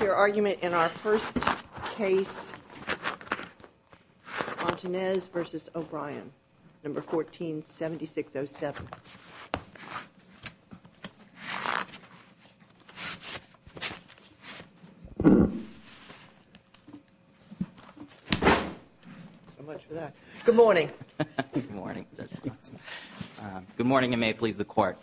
Your argument in our first case, Fontanez v. O'Brien, No. 14-7607. So much for that. Good morning. Good morning. Good morning, and may it please the Court.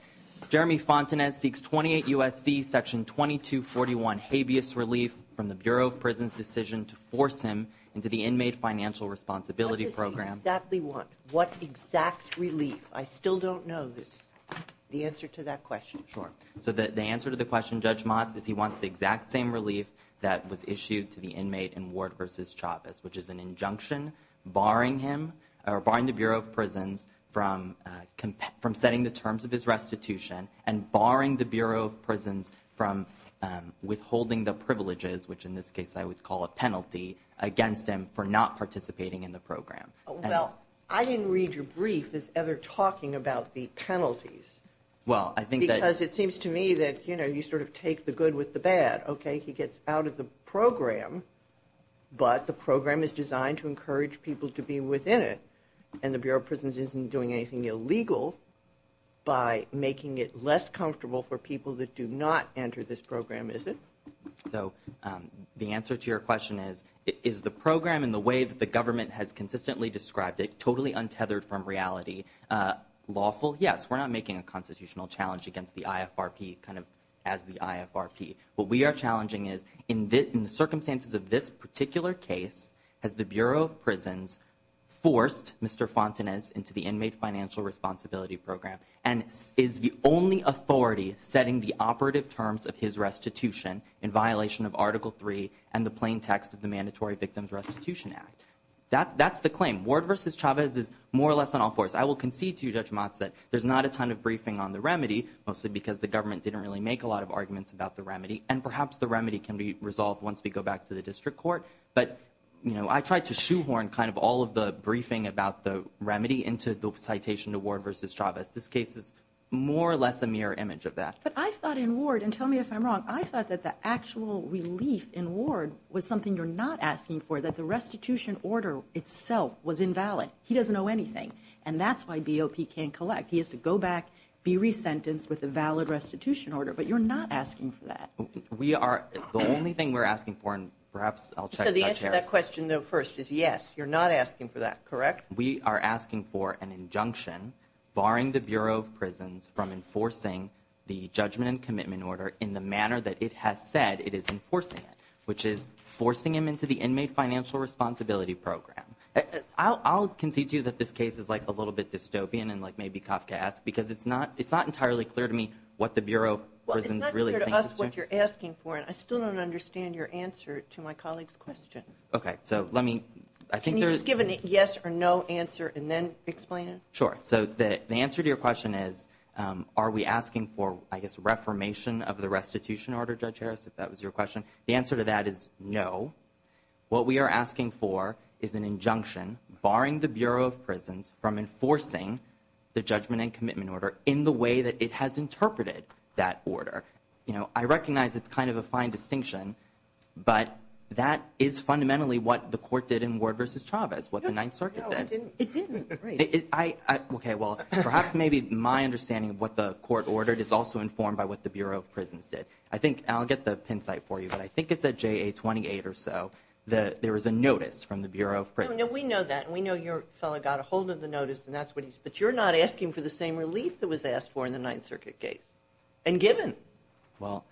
Jeremy Fontanez seeks 28 U.S.C. Section 2241 habeas relief from the Bureau of Prisons' decision to force him into the inmate financial responsibility program. What does he exactly want? What exact relief? I still don't know the answer to that question. Sure. So the answer to the question, Judge Motz, is he wants the exact same relief that was issued to the inmate in Ward v. Chavez, which is an injunction barring him or barring the Bureau of Prisons from setting the terms of his restitution and barring the Bureau of Prisons from withholding the privileges, which in this case I would call a penalty, against him for not participating in the program. Well, I didn't read your brief as ever talking about the penalties. Well, I think that… Because it seems to me that, you know, you sort of take the good with the bad. Okay, he gets out of the program, but the program is designed to encourage people to be within it, and the Bureau of Prisons isn't doing anything illegal by making it less comfortable for people that do not enter this program, is it? So the answer to your question is, is the program in the way that the government has consistently described it, totally untethered from reality, lawful? Yes, we're not making a constitutional challenge against the IFRP kind of as the IFRP. What we are challenging is, in the circumstances of this particular case, has the Bureau of Prisons forced Mr. Fontanez into the Inmate Financial Responsibility Program, and is the only authority setting the operative terms of his restitution in violation of Article III and the plain text of the Mandatory Victims Restitution Act? That's the claim. Ward v. Chavez is more or less on all fours. I will concede to you, Judge Motz, that there's not a ton of briefing on the remedy, mostly because the government didn't really make a lot of arguments about the remedy, and perhaps the remedy can be resolved once we go back to the district court, but I tried to shoehorn kind of all of the briefing about the remedy into the citation to Ward v. Chavez. This case is more or less a mirror image of that. But I thought in Ward, and tell me if I'm wrong, I thought that the actual relief in Ward was something you're not asking for, that the restitution order itself was invalid. He doesn't owe anything, and that's why BOP can't collect. He has to go back, be resentenced with a valid restitution order. But you're not asking for that. We are. The only thing we're asking for, and perhaps I'll check with Judge Harris. So the answer to that question, though, first, is yes, you're not asking for that, correct? We are asking for an injunction barring the Bureau of Prisons from enforcing the judgment and commitment order in the manner that it has said it is enforcing it, which is forcing him into the Inmate Financial Responsibility Program. I'll concede to you that this case is, like, a little bit dystopian and, like, maybe Kafka asked, because it's not entirely clear to me what the Bureau of Prisons really thinks it's doing. Well, it's not clear to us what you're asking for, and I still don't understand your answer to my colleague's question. Okay, so let me – I think there's – Can you just give an yes or no answer and then explain it? Sure. So the answer to your question is are we asking for, I guess, reformation of the restitution order, Judge Harris, if that was your question? The answer to that is no. What we are asking for is an injunction barring the Bureau of Prisons from enforcing the judgment and commitment order in the way that it has interpreted that order. You know, I recognize it's kind of a fine distinction, but that is fundamentally what the court did in Ward v. Chavez, what the Ninth Circuit did. No, it didn't. Okay, well, perhaps maybe my understanding of what the court ordered is also informed by what the Bureau of Prisons did. I think – and I'll get the pin site for you, but I think it's at JA 28 or so. There was a notice from the Bureau of Prisons. No, we know that, and we know your fellow got a hold of the notice, and that's what he's – but you're not asking for the same relief that was asked for in the Ninth Circuit case and given. Well,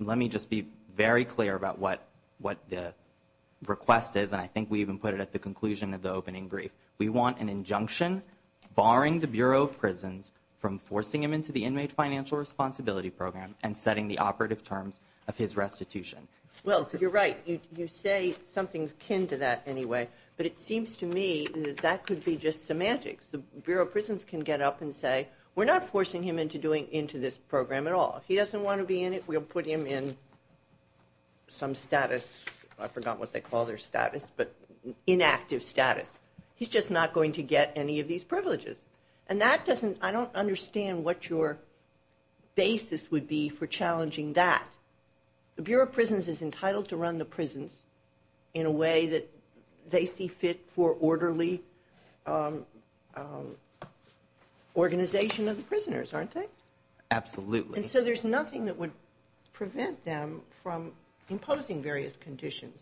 let me just be very clear about what the request is, and I think we even put it at the conclusion of the opening brief. We want an injunction barring the Bureau of Prisons from forcing them into the and setting the operative terms of his restitution. Well, you're right. You say something akin to that anyway, but it seems to me that that could be just semantics. The Bureau of Prisons can get up and say, we're not forcing him into this program at all. If he doesn't want to be in it, we'll put him in some status. I forgot what they call their status, but inactive status. He's just not going to get any of these privileges, and that doesn't – I don't understand what your basis would be for challenging that. The Bureau of Prisons is entitled to run the prisons in a way that they see fit for orderly organization of the prisoners, aren't they? Absolutely. And so there's nothing that would prevent them from imposing various conditions.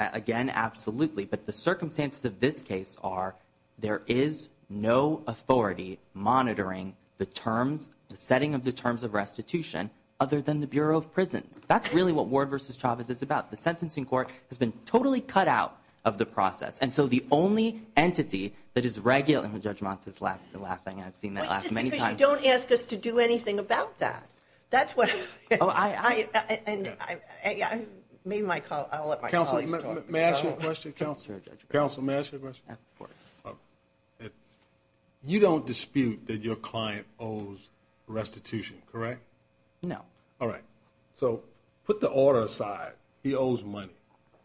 Again, absolutely. But the circumstances of this case are there is no authority monitoring the terms, the setting of the terms of restitution other than the Bureau of Prisons. That's really what Ward v. Chavez is about. The sentencing court has been totally cut out of the process, and so the only entity that is – and Judge Montes is laughing. I've seen that laugh many times. It's just because you don't ask us to do anything about that. That's what – I made my – I'll let my colleagues talk. Counsel, may I ask you a question? Counsel, may I ask you a question? Of course. You don't dispute that your client owes restitution, correct? No. All right. So put the order aside. He owes money.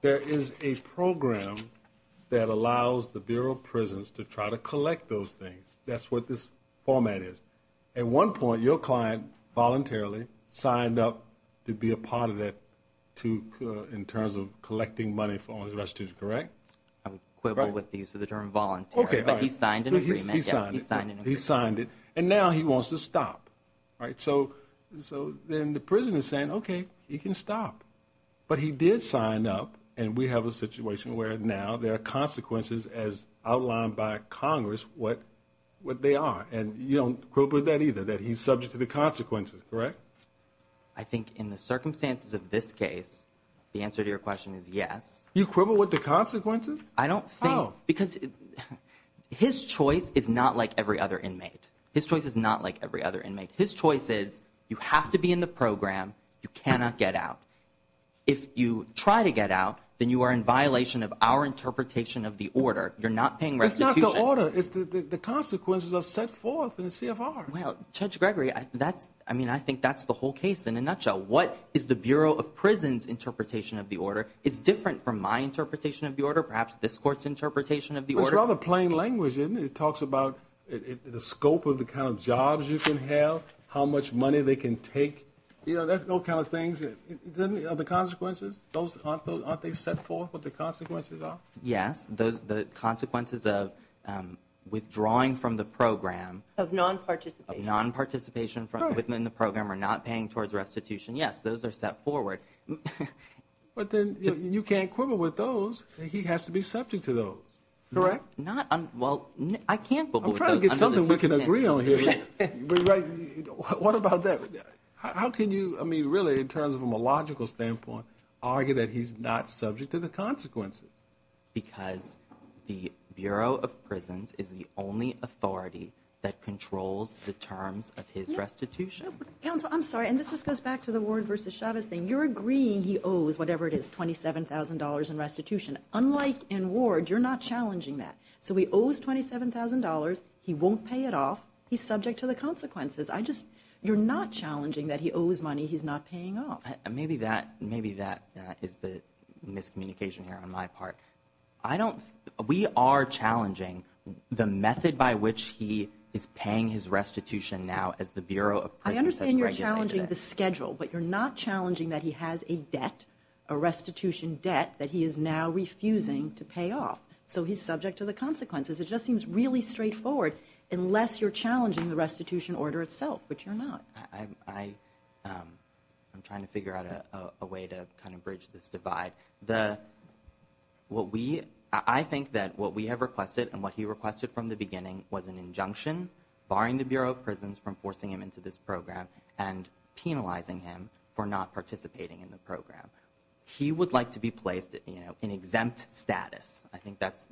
There is a program that allows the Bureau of Prisons to try to collect those things. That's what this format is. At one point, your client voluntarily signed up to be a part of that in terms of collecting money for all his restitution, correct? I'm quibble with the use of the term volunteer. Okay, all right. But he signed an agreement. He signed it. He signed an agreement. He signed it. And now he wants to stop, right? So then the prison is saying, okay, he can stop. But he did sign up, and we have a situation where now there are consequences, as outlined by Congress, what they are. And you don't quibble with that either, that he's subject to the consequences, correct? I think in the circumstances of this case, the answer to your question is yes. You quibble with the consequences? I don't think because his choice is not like every other inmate. His choice is not like every other inmate. His choice is you have to be in the program, you cannot get out. If you try to get out, then you are in violation of our interpretation of the order. You're not paying restitution. It's not the order. The consequences are set forth in the CFR. Well, Judge Gregory, I think that's the whole case in a nutshell. What is the Bureau of Prison's interpretation of the order? It's different from my interpretation of the order, perhaps this court's interpretation of the order. It's rather plain language, isn't it? It talks about the scope of the kind of jobs you can have, how much money they can take. There's all kinds of things. The consequences, aren't they set forth what the consequences are? Yes, the consequences of withdrawing from the program. Of non-participation. Of non-participation in the program or not paying towards restitution. Yes, those are set forward. But then you can't quibble with those. He has to be subject to those, correct? Well, I can't quibble with those. I'm trying to get something we can agree on here. What about that? How can you, I mean, really in terms of a logical standpoint, argue that he's not subject to the consequences? Because the Bureau of Prisons is the only authority that controls the terms of his restitution. Counsel, I'm sorry, and this just goes back to the Ward v. Chavez thing. You're agreeing he owes whatever it is, $27,000 in restitution. Unlike in Ward, you're not challenging that. So he owes $27,000. He won't pay it off. He's subject to the consequences. You're not challenging that he owes money he's not paying off. Maybe that is the miscommunication here on my part. We are challenging the method by which he is paying his restitution now as the Bureau of Prisons has regulated it. I understand you're challenging the schedule, but you're not challenging that he has a debt, a restitution debt, that he is now refusing to pay off. So he's subject to the consequences. It just seems really straightforward unless you're challenging the restitution order itself, which you're not. I'm trying to figure out a way to kind of bridge this divide. I think that what we have requested and what he requested from the beginning was an injunction, barring the Bureau of Prisons from forcing him into this program and penalizing him for not participating in the program. He would like to be placed in exempt status.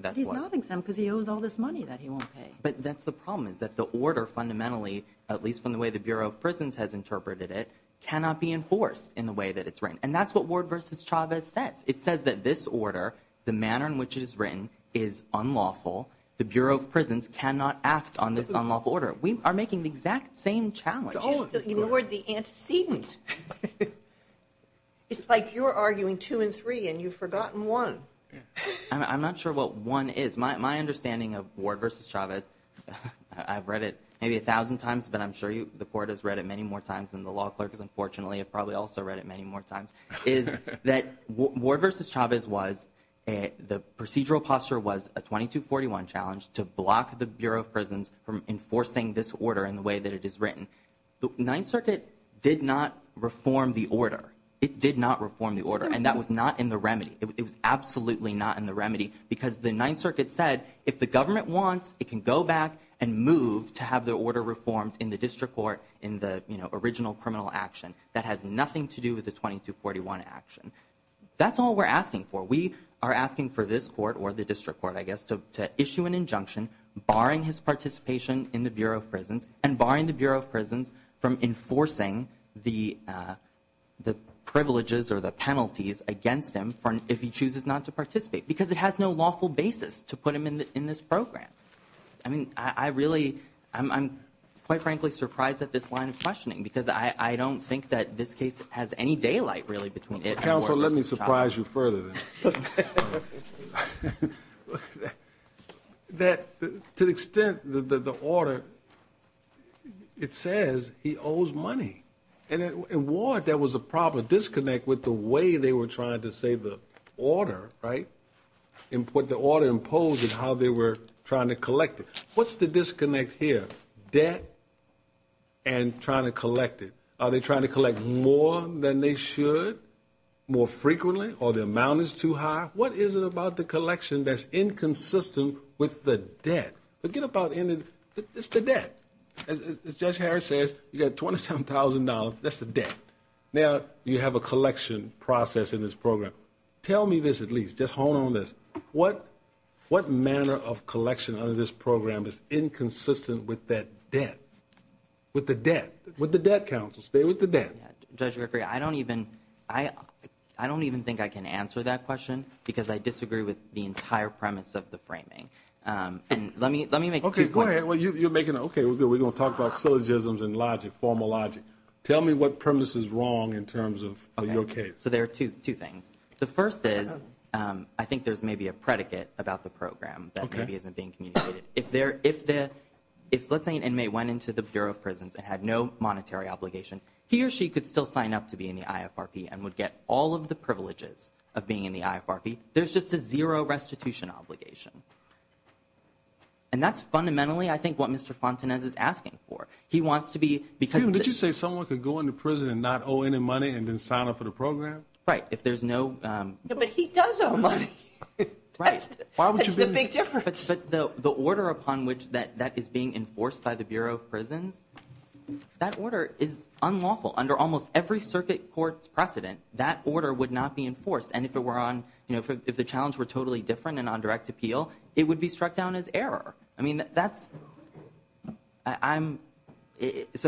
But he's not exempt because he owes all this money that he won't pay. But that's the problem is that the order fundamentally, at least from the way the Bureau of Prisons has interpreted it, cannot be enforced in the way that it's written. And that's what Ward v. Chavez says. It says that this order, the manner in which it is written, is unlawful. The Bureau of Prisons cannot act on this unlawful order. We are making the exact same challenge. Ignore the antecedent. It's like you're arguing two and three and you've forgotten one. I'm not sure what one is. My understanding of Ward v. Chavez, I've read it maybe a thousand times, but I'm sure the Court has read it many more times and the law clerks, unfortunately, have probably also read it many more times, is that Ward v. Chavez was, the procedural posture was a 2241 challenge to block the Bureau of Prisons from enforcing this order in the way that it is written. The Ninth Circuit did not reform the order. It did not reform the order, and that was not in the remedy. It was absolutely not in the remedy because the Ninth Circuit said if the government wants, it can go back and move to have the order reformed in the district court in the original criminal action. That has nothing to do with the 2241 action. That's all we're asking for. We are asking for this court, or the district court, I guess, to issue an injunction, barring his participation in the Bureau of Prisons and barring the Bureau of Prisons from enforcing the privileges or the penalties against him if he chooses not to participate, because it has no lawful basis to put him in this program. I mean, I really, I'm quite frankly surprised at this line of questioning because I don't think that this case has any daylight really between it and Ward v. Chavez. So let me surprise you further. To the extent that the order, it says he owes money, and in Ward there was a proper disconnect with the way they were trying to say the order, right, and what the order imposed and how they were trying to collect it. What's the disconnect here? Debt and trying to collect it. Are they trying to collect more than they should, more frequently, or the amount is too high? What is it about the collection that's inconsistent with the debt? Forget about it. It's the debt. As Judge Harris says, you've got $27,000. That's the debt. Now you have a collection process in this program. Tell me this at least. Just hold on to this. What manner of collection under this program is inconsistent with that debt, with the debt, with the debt counsel? Stay with the debt. Judge Rickery, I don't even think I can answer that question because I disagree with the entire premise of the framing. And let me make two points. Okay, go ahead. You're making, okay, we're going to talk about syllogisms and logic, formal logic. Tell me what premise is wrong in terms of your case. So there are two things. The first is I think there's maybe a predicate about the program that maybe isn't being communicated. If, let's say, an inmate went into the Bureau of Prisons and had no monetary obligation, he or she could still sign up to be in the IFRP and would get all of the privileges of being in the IFRP. There's just a zero restitution obligation. And that's fundamentally, I think, what Mr. Fontenez is asking for. He wants to be because of this. Did you say someone could go into prison and not owe any money and then sign up for the program? Right, if there's no. But he does owe money. Right. That's the big difference. But the order upon which that is being enforced by the Bureau of Prisons, that order is unlawful. Under almost every circuit court's precedent, that order would not be enforced. And if it were on, you know, if the challenge were totally different and on direct appeal, it would be struck down as error. He wants to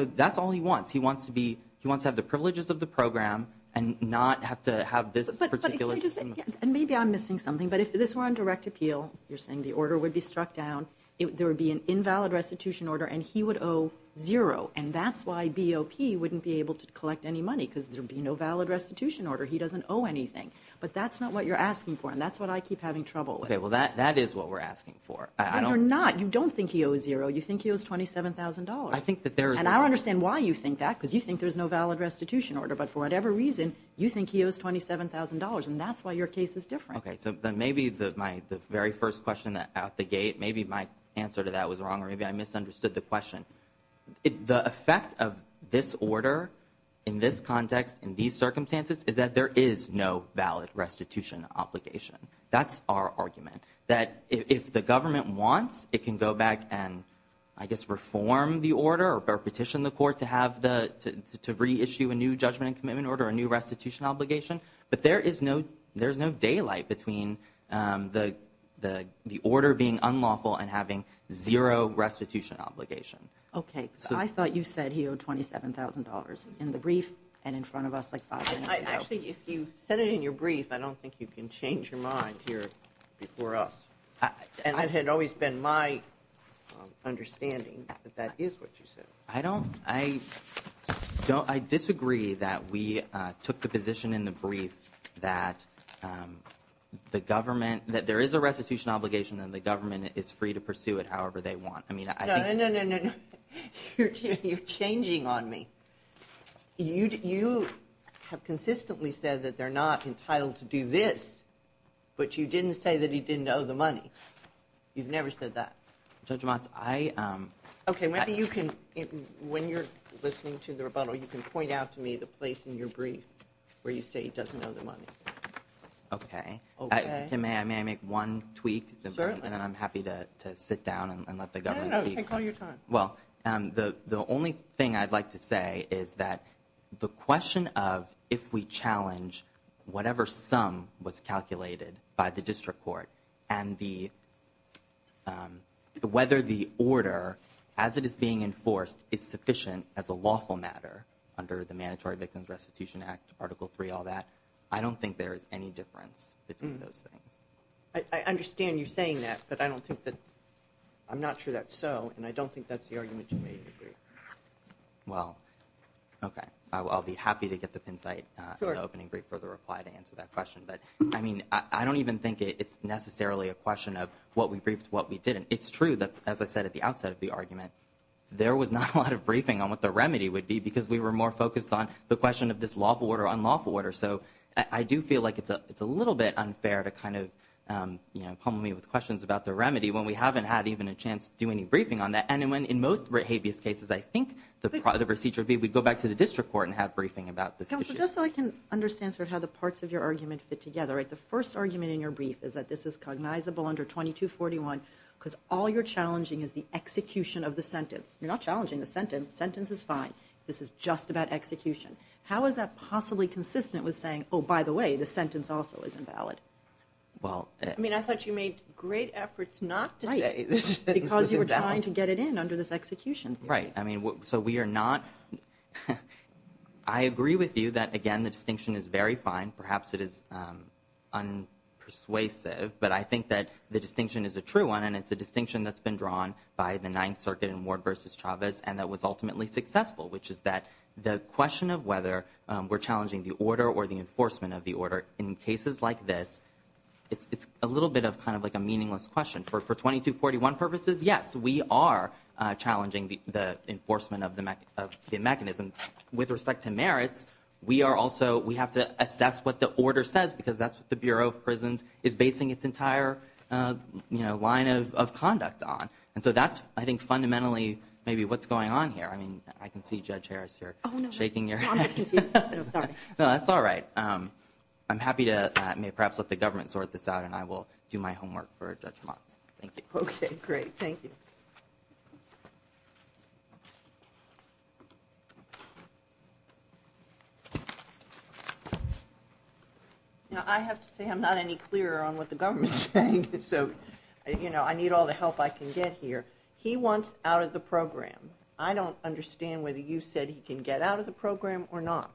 have the privileges of the program and not have to have this particular. And maybe I'm missing something, but if this were on direct appeal, you're saying the order would be struck down, there would be an invalid restitution order, and he would owe zero. And that's why BOP wouldn't be able to collect any money because there would be no valid restitution order. He doesn't owe anything. But that's not what you're asking for, and that's what I keep having trouble with. Okay, well, that is what we're asking for. You're not. You don't think he owes zero. You think he owes $27,000. I think that there is. And I don't understand why you think that, because you think there's no valid restitution order. But for whatever reason, you think he owes $27,000, and that's why your case is different. Okay, so maybe my very first question out the gate, maybe my answer to that was wrong, or maybe I misunderstood the question. The effect of this order in this context, in these circumstances, is that there is no valid restitution obligation. That's our argument. That if the government wants, it can go back and, I guess, reform the order or petition the court to reissue a new judgment and commitment order, a new restitution obligation. But there is no daylight between the order being unlawful and having zero restitution obligation. Okay, I thought you said he owed $27,000 in the brief and in front of us like five minutes ago. Actually, if you said it in your brief, I don't think you can change your mind here before us. And it had always been my understanding that that is what you said. I disagree that we took the position in the brief that there is a restitution obligation and the government is free to pursue it however they want. No, no, no, no, no. You're changing on me. You have consistently said that they're not entitled to do this, but you didn't say that he didn't owe the money. You've never said that. Judge Motz, I— Okay, maybe you can, when you're listening to the rebuttal, you can point out to me the place in your brief where you say he doesn't owe the money. Okay. Okay. May I make one tweak? Certainly. And then I'm happy to sit down and let the government speak. No, no, take all your time. Well, the only thing I'd like to say is that the question of if we challenge whatever sum was calculated by the district court and whether the order, as it is being enforced, is sufficient as a lawful matter under the Mandatory Victims Restitution Act, Article III, all that, I don't think there is any difference between those things. I understand you saying that, but I don't think that—I'm not sure that's so, and I don't think that's the argument you made in your brief. Well, okay. I'll be happy to get the pin site in the opening brief for the reply to answer that question. But, I mean, I don't even think it's necessarily a question of what we briefed, what we didn't. It's true that, as I said at the outset of the argument, there was not a lot of briefing on what the remedy would be because we were more focused on the question of this lawful order, unlawful order. So I do feel like it's a little bit unfair to kind of, you know, do any briefing on that. And in most habeas cases, I think the procedure would be we'd go back to the district court and have briefing about this issue. Counselor, just so I can understand sort of how the parts of your argument fit together, the first argument in your brief is that this is cognizable under 2241 because all you're challenging is the execution of the sentence. You're not challenging the sentence. The sentence is fine. This is just about execution. How is that possibly consistent with saying, oh, by the way, the sentence also is invalid? I mean, I thought you made great efforts not to say this. Because you were trying to get it in under this execution. Right. I mean, so we are not – I agree with you that, again, the distinction is very fine. Perhaps it is unpersuasive, but I think that the distinction is a true one, and it's a distinction that's been drawn by the Ninth Circuit in Ward v. Chavez and that was ultimately successful, which is that the question of whether we're challenging the order or the enforcement of the order in cases like this, it's a little bit of kind of like a meaningless question. For 2241 purposes, yes, we are challenging the enforcement of the mechanism. With respect to merits, we are also – we have to assess what the order says because that's what the Bureau of Prisons is basing its entire, you know, line of conduct on. And so that's, I think, fundamentally maybe what's going on here. I mean, I can see Judge Harris here shaking your head. Oh, no. I'm just confused. No, sorry. No, that's all right. I'm happy to – I may perhaps let the government sort this out, and I will do my homework for Judge Motz. Thank you. Okay, great. Thank you. Now, I have to say I'm not any clearer on what the government is saying, so, you know, I need all the help I can get here. He wants out of the program. I don't understand whether you said he can get out of the program or not.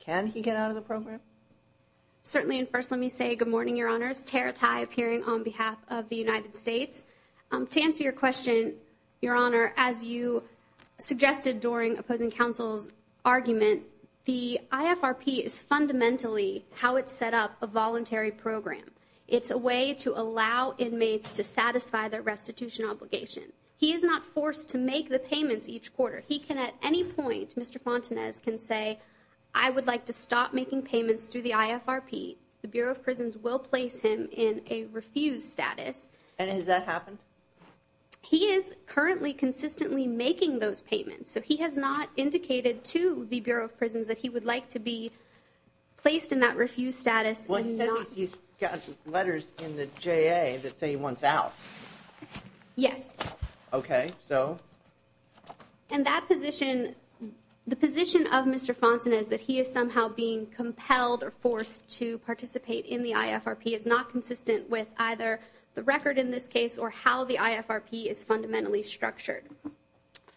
Can he get out of the program? Certainly, and first let me say good morning, Your Honors. Tara Tai appearing on behalf of the United States. To answer your question, Your Honor, as you suggested during opposing counsel's argument, the IFRP is fundamentally how it's set up a voluntary program. It's a way to allow inmates to satisfy their restitution obligation. He is not forced to make the payments each quarter. He can at any point, Mr. Fontanez can say, I would like to stop making payments through the IFRP. The Bureau of Prisons will place him in a refused status. And has that happened? He is currently consistently making those payments, so he has not indicated to the Bureau of Prisons that he would like to be placed in that refused status. Well, he says he's got letters in the JA that say he wants out. Yes. Okay, so? And that position, the position of Mr. Fontanez that he is somehow being compelled or forced to participate in the IFRP is not consistent with either the record in this case or how the IFRP is fundamentally structured.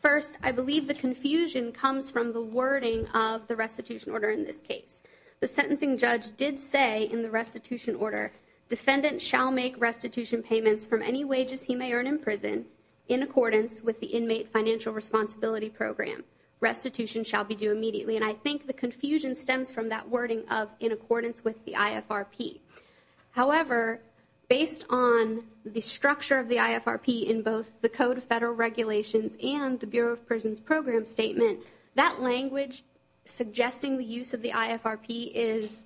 First, I believe the confusion comes from the wording of the restitution order in this case. The sentencing judge did say in the restitution order, Defendant shall make restitution payments from any wages he may earn in prison in accordance with the Inmate Financial Responsibility Program. Restitution shall be due immediately. And I think the confusion stems from that wording of in accordance with the IFRP. However, based on the structure of the IFRP in both the Code of Federal Regulations and the Bureau of Prisons Program Statement, that language suggesting the use of the IFRP is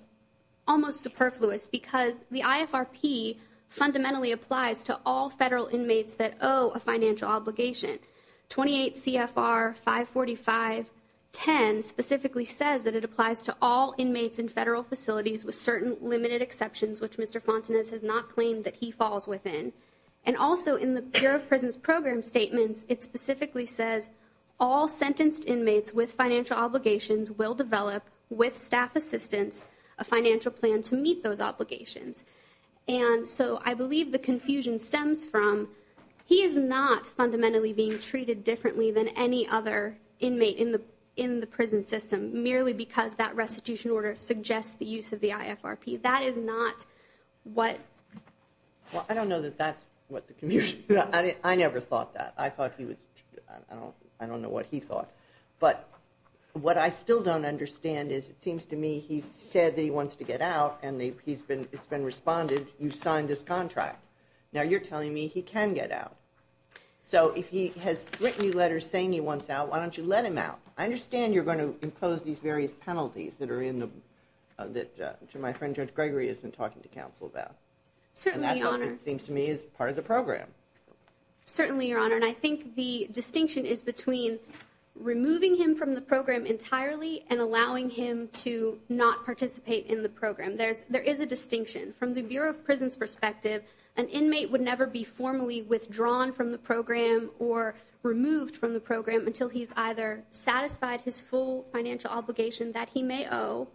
almost superfluous because the IFRP fundamentally applies to all federal inmates that owe a financial obligation. 28 CFR 545.10 specifically says that it applies to all inmates in federal facilities with certain limited exceptions, which Mr. Fontanez has not claimed that he falls within. And also, in the Bureau of Prisons Program Statements, it specifically says all sentenced inmates with financial obligations will develop, with staff assistance, a financial plan to meet those obligations. And so I believe the confusion stems from he is not fundamentally being treated differently than any other inmate in the prison system, merely because that restitution order suggests the use of the IFRP. That is not what... Well, I don't know that that's what the confusion... I never thought that. I thought he was... I don't know what he thought. But what I still don't understand is it seems to me he said that he wants to get out and it's been responded, you signed this contract. Now you're telling me he can get out. So if he has written you letters saying he wants out, why don't you let him out? I understand you're going to impose these various penalties that my friend Judge Gregory has been talking to counsel about. Certainly, Your Honor. And that's what it seems to me is part of the program. Certainly, Your Honor. And I think the distinction is between removing him from the program entirely and allowing him to not participate in the program. There is a distinction. From the Bureau of Prison's perspective, an inmate would never be formally withdrawn from the program or removed from the program until he's either satisfied his full financial obligation that he may owe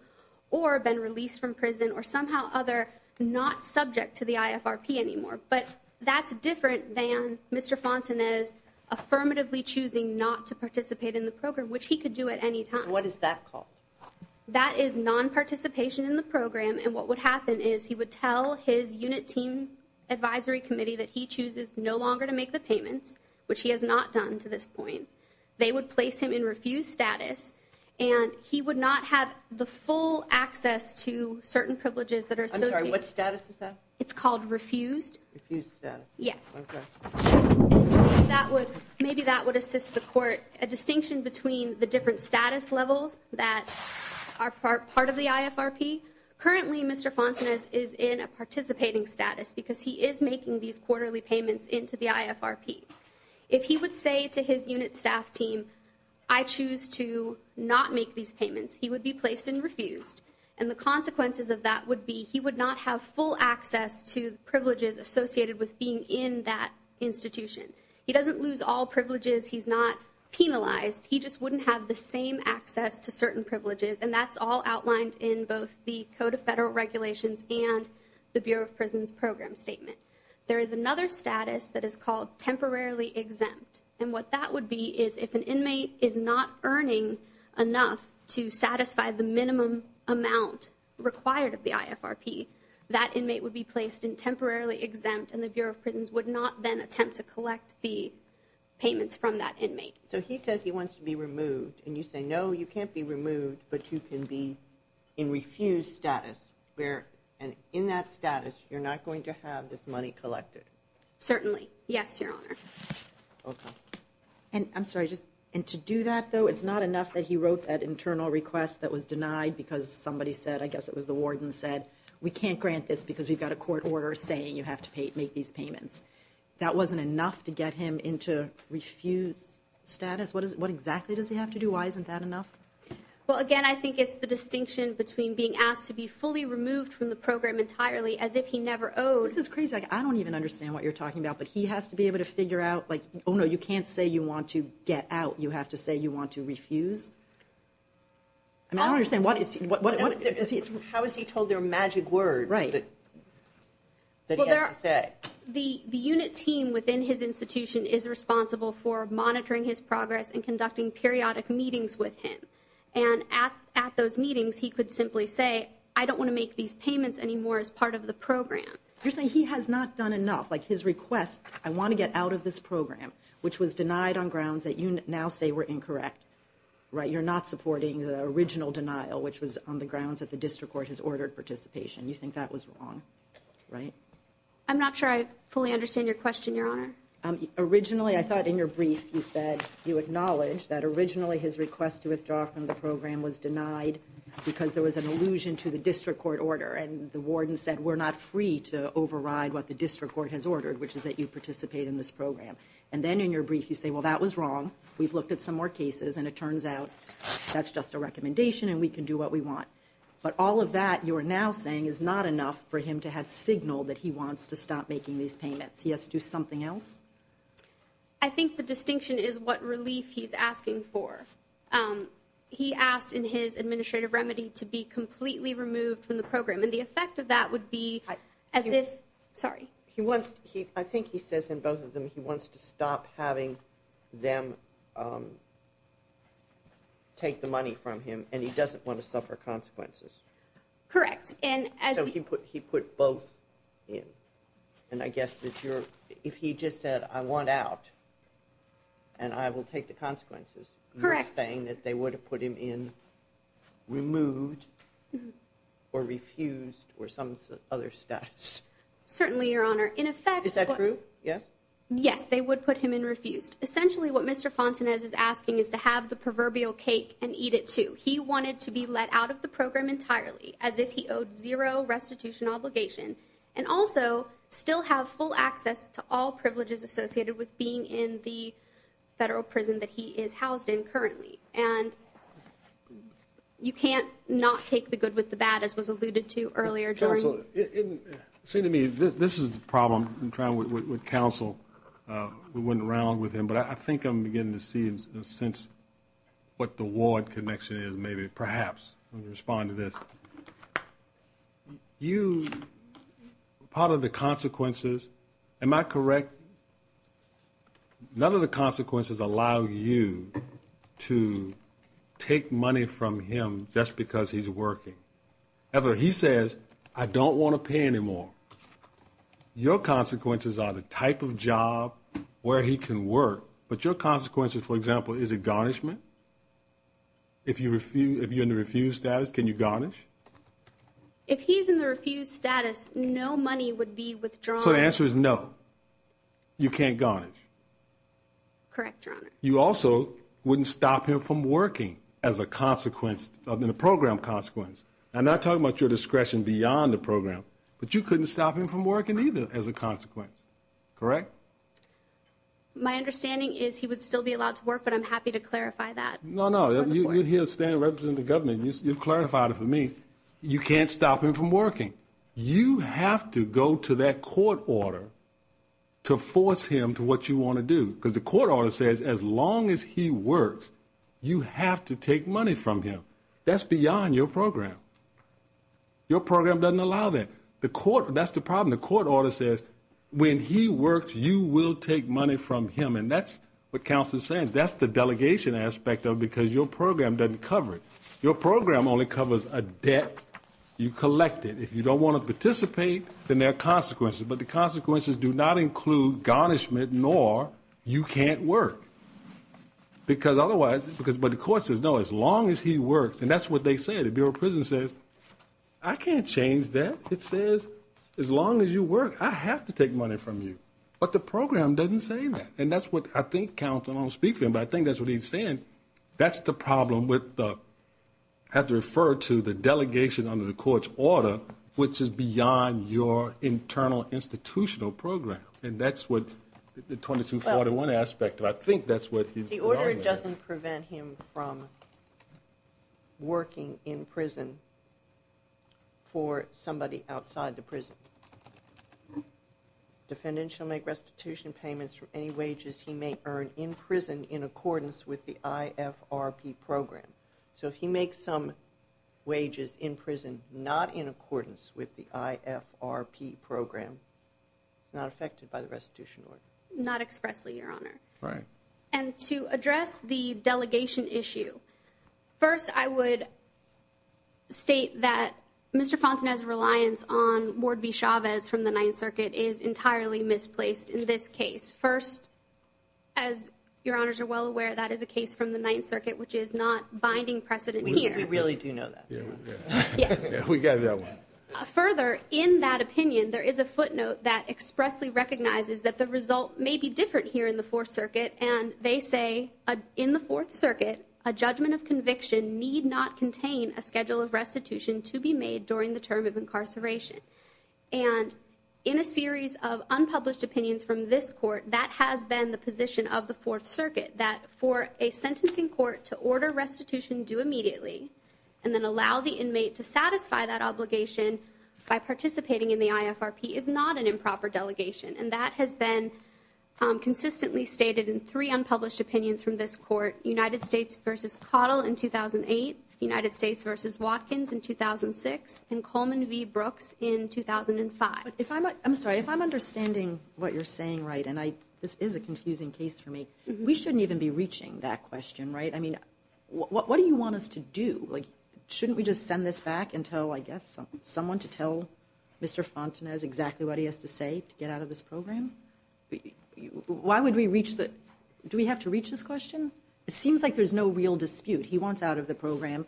or been released from prison or somehow other not subject to the IFRP anymore. But that's different than Mr. Fontenay's affirmatively choosing not to participate in the program, which he could do at any time. What is that called? That is nonparticipation in the program. And what would happen is he would tell his unit team advisory committee that he chooses no longer to make the payments, which he has not done to this point. They would place him in refused status, and he would not have the full access to certain privileges that are associated. I'm sorry. What status is that? It's called refused. Refused status. Yes. Okay. And maybe that would assist the court, a distinction between the different status levels that are part of the IFRP. Currently, Mr. Fontenay is in a participating status because he is making these quarterly payments into the IFRP. If he would say to his unit staff team, I choose to not make these payments, he would be placed in refused. And the consequences of that would be he would not have full access to privileges associated with being in that institution. He doesn't lose all privileges. He's not penalized. He just wouldn't have the same access to certain privileges, and that's all outlined in both the Code of Federal Regulations and the Bureau of Prisons Program Statement. There is another status that is called temporarily exempt, and what that would be is if an inmate is not earning enough to satisfy the minimum amount required of the IFRP, that inmate would be placed in temporarily exempt, and the Bureau of Prisons would not then attempt to collect the payments from that inmate. So he says he wants to be removed, and you say, no, you can't be removed, but you can be in refused status, where in that status you're not going to have this money collected. Certainly. Yes, Your Honor. Okay. I'm sorry. And to do that, though, it's not enough that he wrote that internal request that was denied because somebody said, I guess it was the warden said, we can't grant this because we've got a court order saying you have to make these payments. That wasn't enough to get him into refused status? What exactly does he have to do? Why isn't that enough? Well, again, I think it's the distinction between being asked to be fully removed from the program entirely as if he never owed. This is crazy. I don't even understand what you're talking about, but he has to be able to figure out, like, oh, no, you can't say you want to get out. You have to say you want to refuse. I don't understand. How is he told their magic word that he has to say? The unit team within his institution is responsible for monitoring his progress and conducting periodic meetings with him, and at those meetings he could simply say, I don't want to make these payments anymore as part of the program. You're saying he has not done enough. Like, his request, I want to get out of this program, which was denied on grounds that you now say were incorrect, right? You're not supporting the original denial, which was on the grounds that the district court has ordered participation. You think that was wrong, right? I'm not sure I fully understand your question, Your Honor. Originally, I thought in your brief you said you acknowledged that originally his request to withdraw from the program was denied because there was an allusion to the district court order, and the warden said we're not free to override what the district court has ordered, which is that you participate in this program. And then in your brief you say, well, that was wrong, we've looked at some more cases, and it turns out that's just a recommendation and we can do what we want. But all of that, you are now saying, is not enough for him to have signaled that he wants to stop making these payments. He has to do something else? I think the distinction is what relief he's asking for. He asked in his administrative remedy to be completely removed from the program, and the effect of that would be as if, sorry. I think he says in both of them he wants to stop having them take the money from him, and he doesn't want to suffer consequences. Correct. So he put both in. And I guess if he just said, I want out, and I will take the consequences, you're saying that they would have put him in removed or refused or some other status. Certainly, Your Honor. In effect. Is that true? Yes? Yes, they would put him in refused. Essentially what Mr. Fontenay is asking is to have the proverbial cake and eat it too. He wanted to be let out of the program entirely, as if he owed zero restitution obligation, and also still have full access to all privileges associated with being in the federal prison that he is housed in currently. And you can't not take the good with the bad, as was alluded to earlier. Counsel, it seemed to me this is the problem with counsel. We went around with him, but I think I'm beginning to see and sense what the ward connection is maybe, perhaps. Let me respond to this. You, part of the consequences, am I correct? None of the consequences allow you to take money from him just because he's working. However, he says, I don't want to pay anymore. Your consequences are the type of job where he can work. But your consequences, for example, is it garnishment? If you're in the refused status, can you garnish? If he's in the refused status, no money would be withdrawn. So the answer is no. You can't garnish. Correct, Your Honor. You also wouldn't stop him from working as a consequence of the program consequence. I'm not talking about your discretion beyond the program, but you couldn't stop him from working either as a consequence. Correct? My understanding is he would still be allowed to work, but I'm happy to clarify that. No, no. He'll stand and represent the government. You've clarified it for me. You can't stop him from working. You have to go to that court order to force him to what you want to do, because the court order says as long as he works, you have to take money from him. That's beyond your program. Your program doesn't allow that. That's the problem. And the court order says when he works, you will take money from him. And that's what counsel is saying. That's the delegation aspect of it, because your program doesn't cover it. Your program only covers a debt you collected. If you don't want to participate, then there are consequences. But the consequences do not include garnishment, nor you can't work. But the court says, no, as long as he works. And that's what they say. The Bureau of Prison says, I can't change that. It says, as long as you work, I have to take money from you. But the program doesn't say that. And that's what I think counsel is speaking, but I think that's what he's saying. That's the problem with the, I have to refer to the delegation under the court's order, which is beyond your internal institutional program. And that's what the 2241 aspect of it. The order doesn't prevent him from working in prison for somebody outside the prison. Defendant shall make restitution payments for any wages he may earn in prison in accordance with the IFRP program. So if he makes some wages in prison not in accordance with the IFRP program, he's not affected by the restitution order. Not expressly, Your Honor. Right. And to address the delegation issue, first I would state that Mr. Fontenay's reliance on Ward B. Chavez from the Ninth Circuit is entirely misplaced in this case. First, as Your Honors are well aware, that is a case from the Ninth Circuit, which is not binding precedent here. We really do know that. Yeah. Yeah. We got that one. Further, in that opinion, there is a footnote that expressly recognizes that the result may be different here in the Fourth Circuit. And they say, in the Fourth Circuit, a judgment of conviction need not contain a schedule of restitution to be made during the term of incarceration. And in a series of unpublished opinions from this court, that has been the position of the Fourth Circuit, that for a sentencing court to order restitution due immediately and then allow the inmate to satisfy that obligation by participating in the IFRP is not an improper delegation. And that has been consistently stated in three unpublished opinions from this court, United States v. Cottle in 2008, United States v. Watkins in 2006, and Coleman v. Brooks in 2005. I'm sorry. If I'm understanding what you're saying right, and this is a confusing case for me, we shouldn't even be reaching that question, right? I mean, what do you want us to do? Like, shouldn't we just send this back and tell, I guess, someone to tell Mr. Fontenay exactly what he has to say to get out of this program? Why would we reach the – do we have to reach this question? It seems like there's no real dispute. He wants out of the program.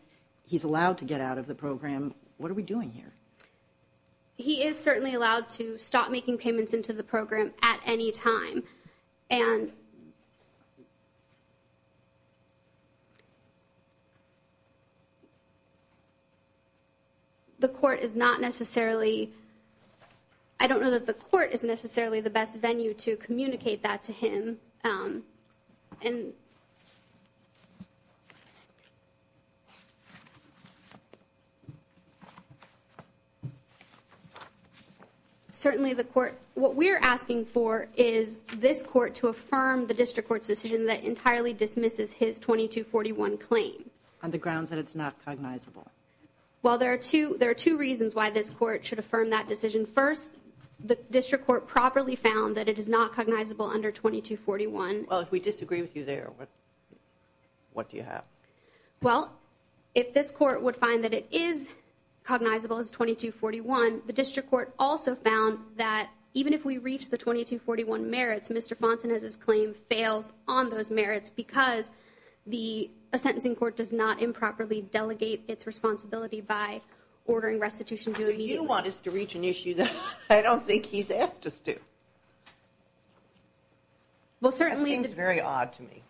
He's allowed to get out of the program. What are we doing here? He is certainly allowed to stop making payments into the program at any time. And the court is not necessarily – I don't know that the court is necessarily the best venue to communicate that to him. And certainly the court – what we're asking for is this court to affirm the district court's decision that entirely dismisses his 2241 claim. On the grounds that it's not cognizable. Well, there are two reasons why this court should affirm that decision. First, the district court properly found that it is not cognizable under 2241. Well, if we disagree with you there, what do you have? Well, if this court would find that it is cognizable as 2241, the district court also found that even if we reach the 2241 merits, Mr. Fontenay's claim fails on those merits because the sentencing court does not improperly delegate its responsibility by ordering restitution due immediately. So what you want is to reach an issue that I don't think he's asked us to. Well, certainly – That seems very odd to me.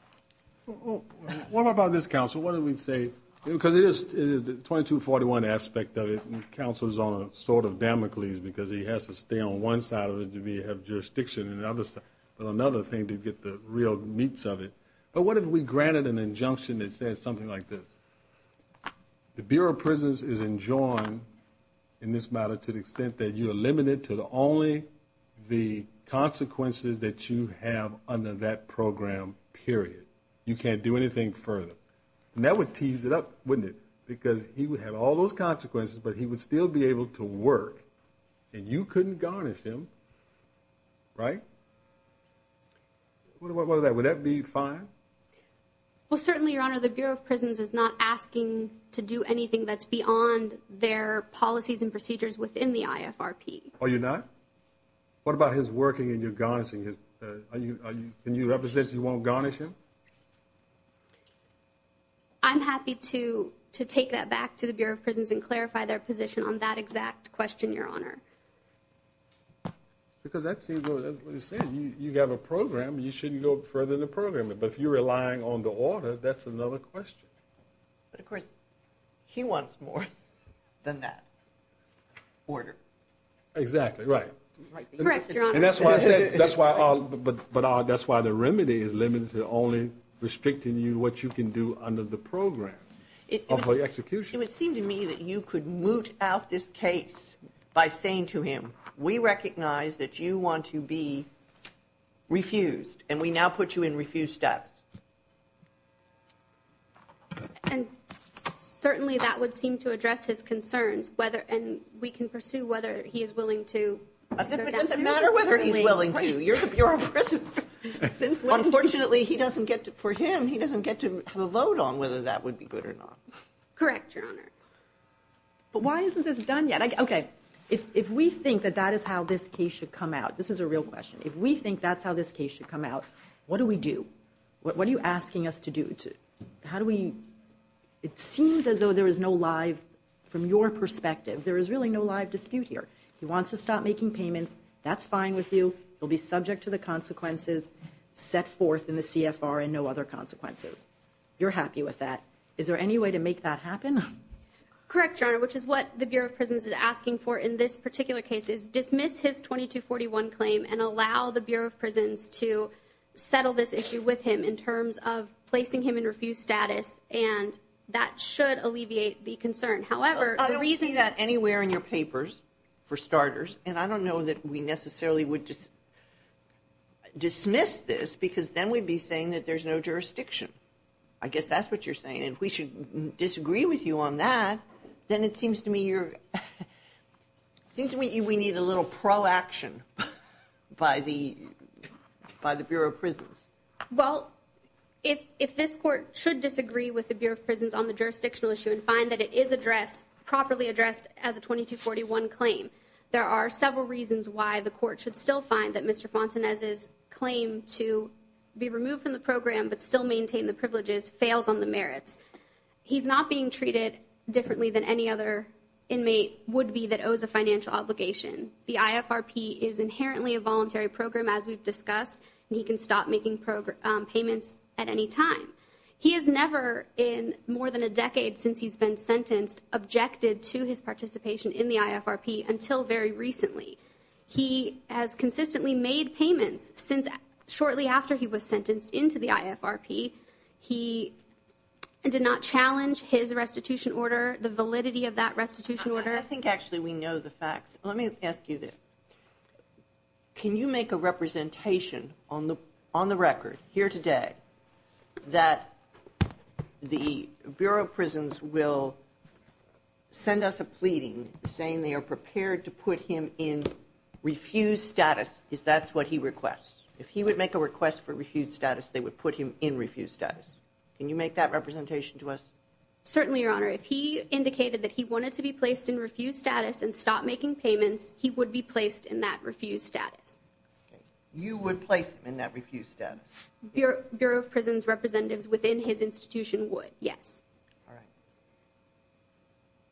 What about this counsel? What do we say? Because it is the 2241 aspect of it. Counsel is on a sort of Damocles because he has to stay on one side of it to be able to have jurisdiction on the other side. But another thing to get the real meats of it. But what if we granted an injunction that says something like this? The Bureau of Prisons is enjoined in this matter to the extent that you are limited to only the consequences that you have under that program, period. You can't do anything further. And that would tease it up, wouldn't it? Because he would have all those consequences, but he would still be able to work. And you couldn't garnish him, right? What about that? Would that be fine? Well, certainly, Your Honor, the Bureau of Prisons is not asking to do anything that's beyond their policies and procedures within the IFRP. Are you not? What about his working and your garnishing? Are you – and you represent you won't garnish him? I'm happy to take that back to the Bureau of Prisons and clarify their position on that exact question, Your Honor. Because that seems – you have a program. You shouldn't go further than the program. But if you're relying on the order, that's another question. But, of course, he wants more than that order. Exactly, right. Correct, Your Honor. And that's why I said – that's why – but that's why the remedy is limited to only restricting you what you can do under the program of the execution. It would seem to me that you could moot out this case by saying to him, we recognize that you want to be refused, and we now put you in refuse steps. And certainly that would seem to address his concerns, whether – and we can pursue whether he is willing to go down that route. It doesn't matter whether he's willing to. You're the Bureau of Prisons. Unfortunately, he doesn't get to – for him, he doesn't get to have a vote on whether that would be good or not. Correct, Your Honor. But why isn't this done yet? Okay, if we think that that is how this case should come out – this is a real question. If we think that's how this case should come out, what do we do? What are you asking us to do? How do we – it seems as though there is no live – from your perspective, there is really no live dispute here. He wants to stop making payments. That's fine with you. He'll be subject to the consequences set forth in the CFR and no other consequences. You're happy with that. Is there any way to make that happen? Correct, Your Honor, which is what the Bureau of Prisons is asking for in this particular case is dismiss his 2241 claim and allow the Bureau of Prisons to settle this issue with him in terms of placing him in refused status, and that should alleviate the concern. However, the reason – I don't see that anywhere in your papers, for starters, and I don't know that we necessarily would dismiss this because then we'd be saying that there's no jurisdiction. I guess that's what you're saying, and if we should disagree with you on that, then it seems to me you're – it seems to me we need a little pro-action by the Bureau of Prisons. Well, if this Court should disagree with the Bureau of Prisons on the jurisdictional issue and find that it is addressed – properly addressed as a 2241 claim, there are several reasons why the Court should still find that Mr. Fontanez's claim to be removed from the program but still maintain the privileges fails on the merits. He's not being treated differently than any other inmate would be that owes a financial obligation. The IFRP is inherently a voluntary program, as we've discussed, and he can stop making payments at any time. He has never, in more than a decade since he's been sentenced, objected to his participation in the IFRP until very recently. He has consistently made payments since shortly after he was sentenced into the IFRP. He did not challenge his restitution order, the validity of that restitution order. I think actually we know the facts. Let me ask you this. Can you make a representation on the record here today that the Bureau of Prisons will send us a pleading saying they are prepared to put him in refused status if that's what he requests? If he would make a request for refused status, they would put him in refused status. Can you make that representation to us? Certainly, Your Honor. If he indicated that he wanted to be placed in refused status and stop making payments, he would be placed in that refused status. You would place him in that refused status? Bureau of Prisons representatives within his institution would, yes. All right.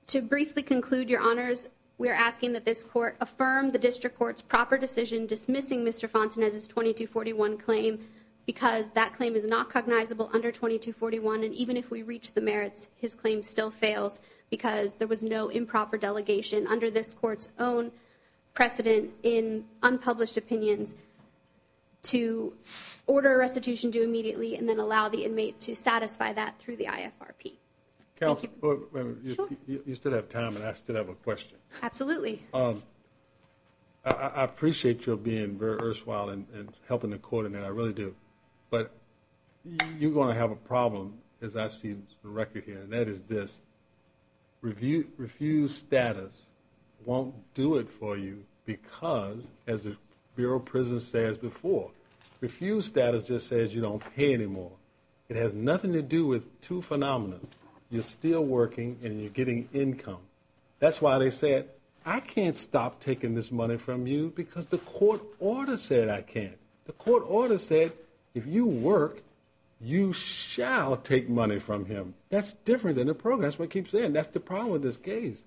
To briefly conclude, Your Honors, we are asking that this court affirm the district court's proper decision dismissing Mr. Fontenay's 2241 claim because that claim is not cognizable under 2241, and even if we reach the merits, his claim still fails because there was no improper delegation under this court's own precedent in unpublished opinions to order a restitution due immediately and then allow the inmate to satisfy that through the IFRP. Counsel, you still have time, and I still have a question. Absolutely. I appreciate your being very earth-swell and helping the court in that. I really do. But you're going to have a problem, as I see the record here, and that is this. Refused status won't do it for you because, as the Bureau of Prisons says before, refused status just says you don't pay anymore. It has nothing to do with two phenomena. You're still working, and you're getting income. That's why they said, I can't stop taking this money from you because the court order said I can't. The court order said if you work, you shall take money from him. That's different than the program. That's what it keeps saying. That's the problem with this case.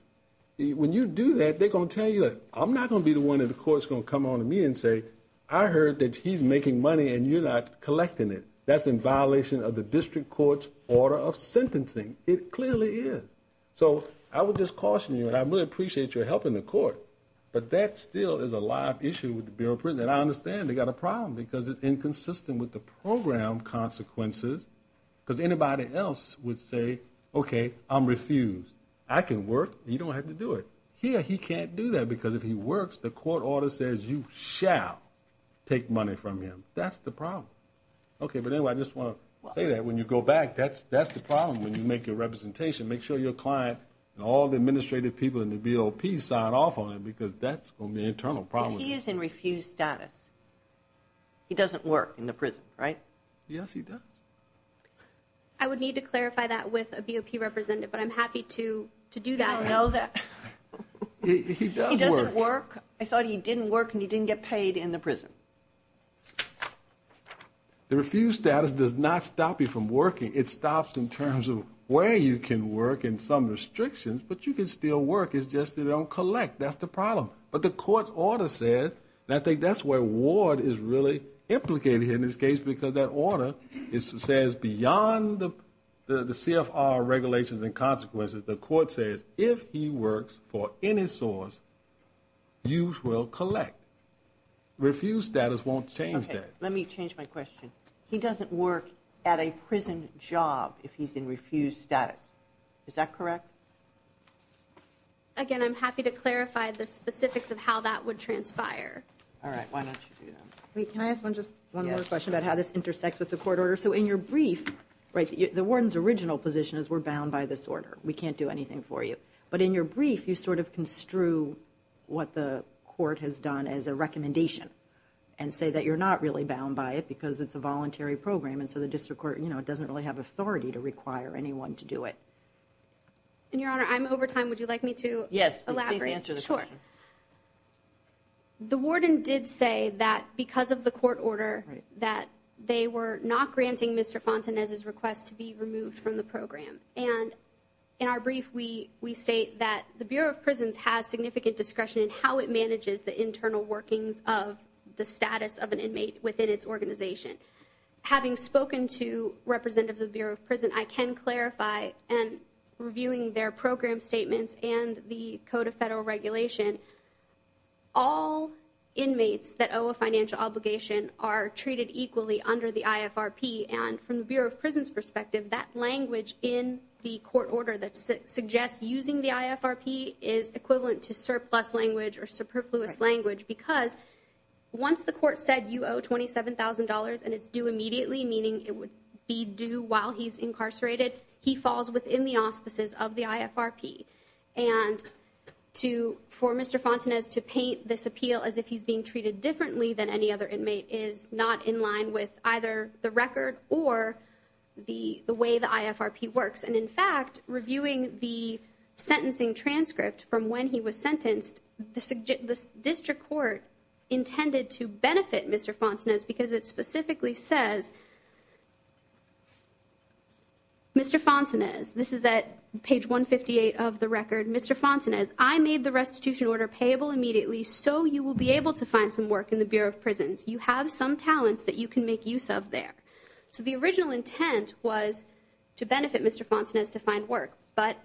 When you do that, they're going to tell you, I'm not going to be the one that the court's going to come on to me and say, I heard that he's making money and you're not collecting it. That's in violation of the district court's order of sentencing. It clearly is. So I would just caution you, and I really appreciate your help in the court, but that still is a live issue with the Bureau of Prisons. And I understand they've got a problem because it's inconsistent with the program consequences because anybody else would say, okay, I'm refused. I can work. You don't have to do it. Here he can't do that because if he works, the court order says you shall take money from him. That's the problem. Okay, but anyway, I just want to say that when you go back, that's the problem when you make your representation. Make sure your client and all the administrative people in the BOP sign off on it because that's going to be an internal problem. But he is in refused status. He doesn't work in the prison, right? Yes, he does. I would need to clarify that with a BOP representative, but I'm happy to do that. I don't know that. He does work. He doesn't work. I thought he didn't work and he didn't get paid in the prison. The refused status does not stop you from working. It stops in terms of where you can work and some restrictions, but you can still work. It's just they don't collect. That's the problem. But the court order says, and I think that's where Ward is really implicated here in this case because that order says beyond the CFR regulations and consequences, the court says if he works for any source, you will collect. Refused status won't change that. Let me change my question. He doesn't work at a prison job if he's in refused status. Is that correct? Again, I'm happy to clarify the specifics of how that would transpire. All right, why don't you do that? Can I ask just one more question about how this intersects with the court order? So in your brief, the warden's original position is we're bound by this order. We can't do anything for you. But in your brief, you sort of construe what the court has done as a recommendation and say that you're not really bound by it because it's a voluntary program, and so the district court doesn't really have authority to require anyone to do it. And, Your Honor, I'm over time. Would you like me to elaborate? Yes, please answer the question. Sure. The warden did say that because of the court order, that they were not granting Mr. Fontenez's request to be removed from the program. And in our brief, we state that the Bureau of Prisons has significant discretion in how it manages the internal workings of the status of an inmate within its organization. Having spoken to representatives of the Bureau of Prisons, I can clarify in reviewing their program statements and the Code of Federal Regulation, all inmates that owe a financial obligation are treated equally under the IFRP. And from the Bureau of Prisons' perspective, that language in the court order that suggests using the IFRP is equivalent to surplus language or superfluous language because once the court said you owe $27,000 and it's due immediately, meaning it would be due while he's incarcerated, he falls within the auspices of the IFRP. And for Mr. Fontenez to paint this appeal as if he's being treated differently than any other inmate is not in line with either the record or the way the IFRP works. And in fact, reviewing the sentencing transcript from when he was sentenced, the district court intended to benefit Mr. Fontenez because it specifically says, Mr. Fontenez, this is at page 158 of the record, Mr. Fontenez, I made the restitution order payable immediately so you will be able to find some work in the Bureau of Prisons. You have some talents that you can make use of there. So the original intent was to benefit Mr. Fontenez to find work, but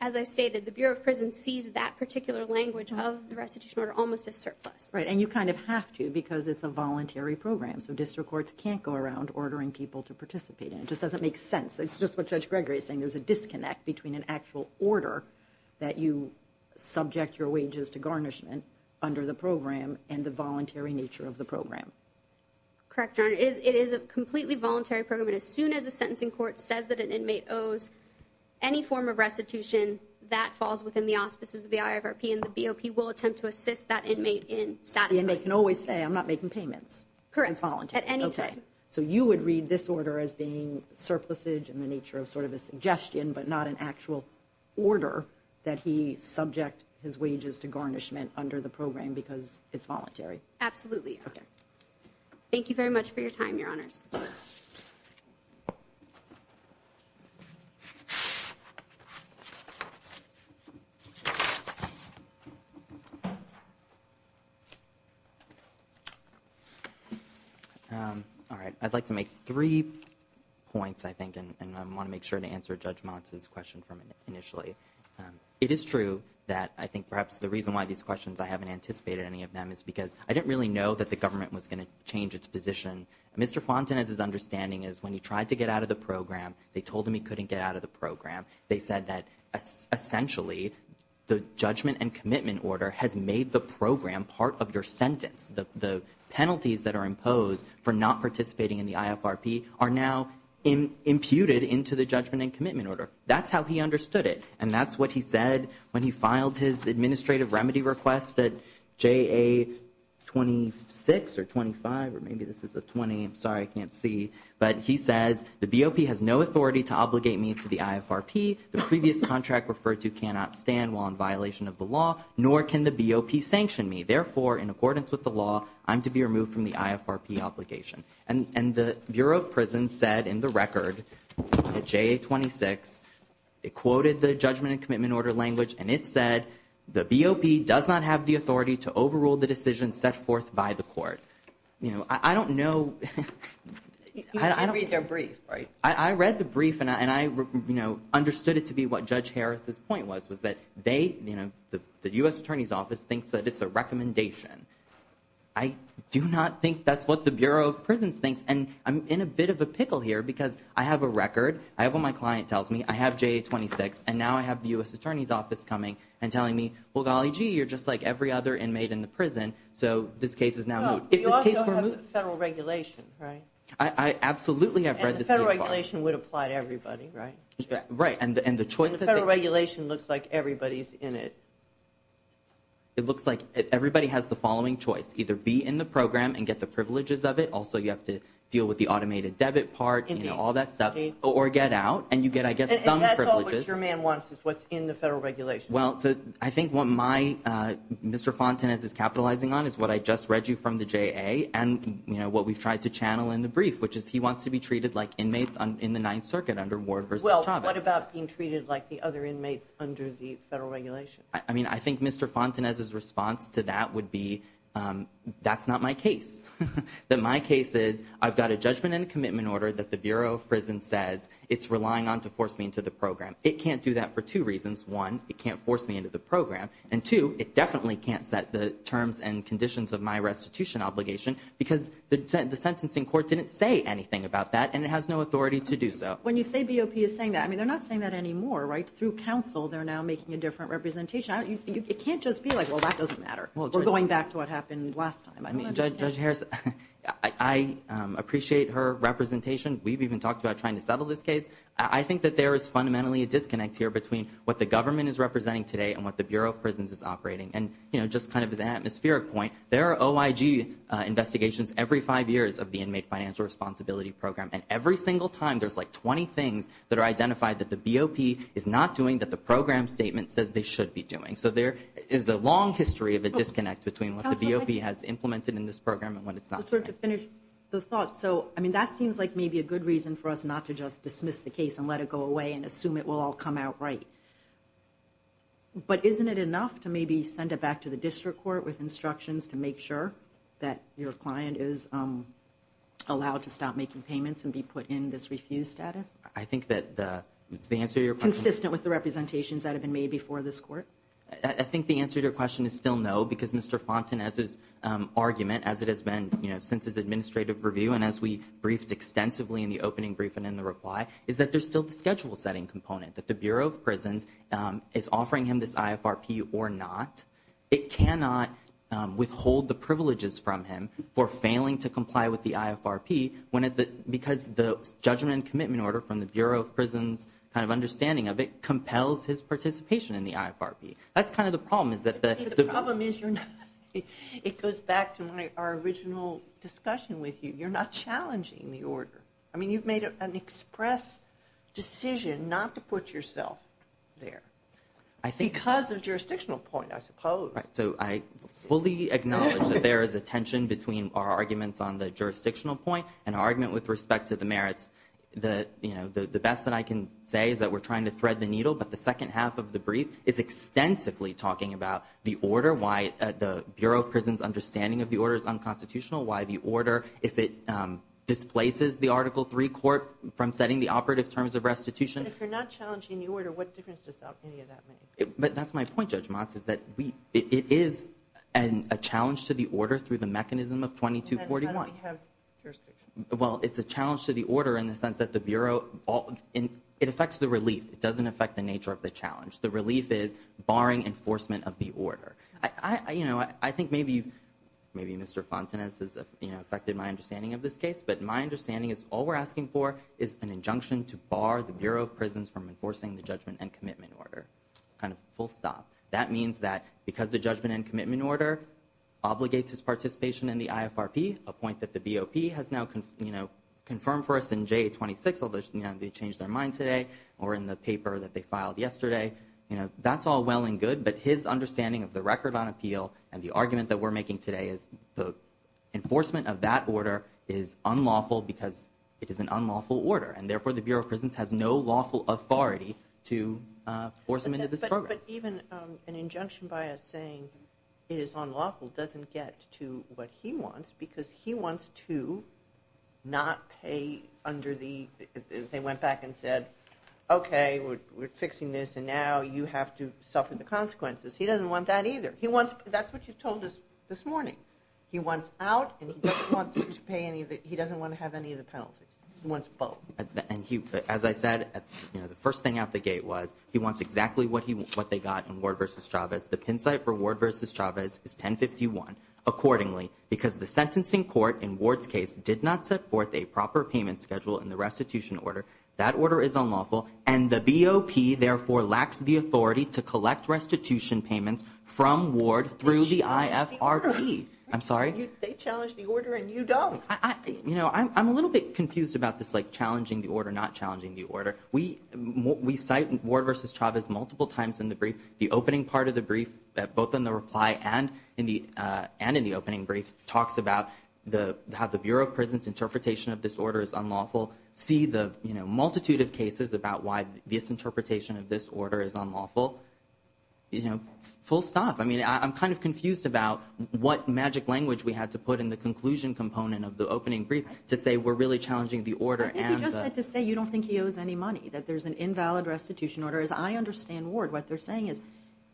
as I stated, the Bureau of Prisons sees that particular language of the restitution order almost as surplus. Right. And you kind of have to because it's a voluntary program. So district courts can't go around ordering people to participate. It just doesn't make sense. It's just what Judge Gregory is saying. There's a disconnect between an actual order that you subject your wages to garnishment under the program and the voluntary nature of the program. Correct, Your Honor. It is a completely voluntary program. And as soon as a sentencing court says that an inmate owes any form of restitution, that falls within the auspices of the IFRP, and the BOP will attempt to assist that inmate in satisfying it. The inmate can always say, I'm not making payments. Correct. At any time. So you would read this order as being surplusage in the nature of sort of a suggestion but not an actual order that he subject his wages to garnishment under the program because it's voluntary. Absolutely, Your Honor. Thank you very much for your time, Your Honors. Thank you. All right. I'd like to make three points, I think, and I want to make sure to answer Judge Montz's question from initially. It is true that I think perhaps the reason why these questions, I haven't anticipated any of them, is because I didn't really know that the government was going to change its position. Mr. Fonten, as his understanding is, when he tried to get out of the program, they told him he couldn't get out of the program. They said that essentially the judgment and commitment order has made the program part of your sentence. The penalties that are imposed for not participating in the IFRP are now imputed into the judgment and commitment order. That's how he understood it, and that's what he said when he filed his administrative remedy request at JA26 or 25, or maybe this is a 20. I'm sorry, I can't see. But he says the BOP has no authority to obligate me to the IFRP. The previous contract referred to cannot stand while in violation of the law, nor can the BOP sanction me. Therefore, in accordance with the law, I'm to be removed from the IFRP obligation. And the Bureau of Prisons said in the record at JA26, it quoted the judgment and commitment order language, and it said the BOP does not have the authority to overrule the decision set forth by the court. I don't know. You did read their brief, right? I read the brief, and I understood it to be what Judge Harris's point was, was that the U.S. Attorney's Office thinks that it's a recommendation. I do not think that's what the Bureau of Prisons thinks, and I'm in a bit of a pickle here because I have a record. I have what my client tells me. I have JA26, and now I have the U.S. Attorney's Office coming and telling me, so this case is now moot. You also have the federal regulation, right? I absolutely have read this. And the federal regulation would apply to everybody, right? Right. And the federal regulation looks like everybody's in it. It looks like everybody has the following choice. Either be in the program and get the privileges of it. Also, you have to deal with the automated debit part, you know, all that stuff. Or get out, and you get, I guess, some privileges. And that's all what your man wants is what's in the federal regulation. Well, I think what Mr. Fontenez is capitalizing on is what I just read you from the JA and what we've tried to channel in the brief, which is he wants to be treated like inmates in the Ninth Circuit under Ward v. Chavez. Well, what about being treated like the other inmates under the federal regulation? I mean, I think Mr. Fontenez's response to that would be that's not my case. My case is I've got a judgment and a commitment order that the Bureau of Prisons says it's relying on to force me into the program. It can't do that for two reasons. One, it can't force me into the program. And two, it definitely can't set the terms and conditions of my restitution obligation because the sentencing court didn't say anything about that, and it has no authority to do so. When you say BOP is saying that, I mean, they're not saying that anymore, right? Through counsel, they're now making a different representation. It can't just be like, well, that doesn't matter. We're going back to what happened last time. Judge Harris, I appreciate her representation. We've even talked about trying to settle this case. I think that there is fundamentally a disconnect here between what the government is representing today and what the Bureau of Prisons is operating. And, you know, just kind of as an atmospheric point, there are OIG investigations every five years of the Inmate Financial Responsibility Program, and every single time there's, like, 20 things that are identified that the BOP is not doing that the program statement says they should be doing. So there is a long history of a disconnect between what the BOP has implemented in this program and when it's not. Just sort of to finish the thought. So, I mean, that seems like maybe a good reason for us not to just dismiss the case and let it go away and assume it will all come out right. But isn't it enough to maybe send it back to the district court with instructions to make sure that your client is allowed to stop making payments and be put in this refuse status? I think that the answer to your question – Consistent with the representations that have been made before this court? I think the answer to your question is still no, because Mr. Fonten, as his argument, as it has been since his administrative review and as we briefed extensively in the opening brief and in the reply, is that there's still the schedule-setting component, that the Bureau of Prisons is offering him this IFRP or not. It cannot withhold the privileges from him for failing to comply with the IFRP, because the judgment and commitment order from the Bureau of Prisons' kind of understanding of it compels his participation in the IFRP. That's kind of the problem, is that the – It goes back to our original discussion with you. You're not challenging the order. I mean, you've made an express decision not to put yourself there, because of jurisdictional point, I suppose. So I fully acknowledge that there is a tension between our arguments on the jurisdictional point and our argument with respect to the merits. The best that I can say is that we're trying to thread the needle, but the second half of the brief is extensively talking about the order, why the Bureau of Prisons' understanding of the order is unconstitutional, why the order, if it displaces the Article III court from setting the operative terms of restitution. But if you're not challenging the order, what difference does that make? But that's my point, Judge Motz, is that it is a challenge to the order through the mechanism of 2241. How does it have jurisdiction? Well, it's a challenge to the order in the sense that the Bureau – it affects the relief. It doesn't affect the nature of the challenge. The relief is barring enforcement of the order. You know, I think maybe Mr. Fontenot has affected my understanding of this case, but my understanding is all we're asking for is an injunction to bar the Bureau of Prisons from enforcing the judgment and commitment order, kind of full stop. That means that because the judgment and commitment order obligates its participation in the IFRP, a point that the BOP has now confirmed for us in J26, although they changed their mind today, or in the paper that they filed yesterday, you know, that's all well and good, but his understanding of the record on appeal and the argument that we're making today is the enforcement of that order is unlawful because it is an unlawful order, and therefore the Bureau of Prisons has no lawful authority to force him into this program. But even an injunction by us saying it is unlawful doesn't get to what he wants because he wants to not pay under the they went back and said, okay, we're fixing this, and now you have to suffer the consequences. He doesn't want that either. That's what you told us this morning. He wants out, and he doesn't want to have any of the penalties. He wants both. As I said, the first thing out the gate was he wants exactly what they got in Ward v. Chavez. The pin site for Ward v. Chavez is 1051 accordingly because the sentencing court in Ward's case did not set forth a proper payment schedule in the restitution order. That order is unlawful, and the BOP therefore lacks the authority to collect restitution payments from Ward through the IFRP. I'm sorry? They challenged the order, and you don't. You know, I'm a little bit confused about this, like, challenging the order, not challenging the order. We cite Ward v. Chavez multiple times in the brief. The opening part of the brief, both in the reply and in the opening brief, talks about how the Bureau of Prison's interpretation of this order is unlawful, see the multitude of cases about why this interpretation of this order is unlawful. You know, full stop. I mean, I'm kind of confused about what magic language we had to put in the conclusion component of the opening brief to say we're really challenging the order. I think he just had to say you don't think he owes any money, that there's an invalid restitution order. As I understand Ward, what they're saying is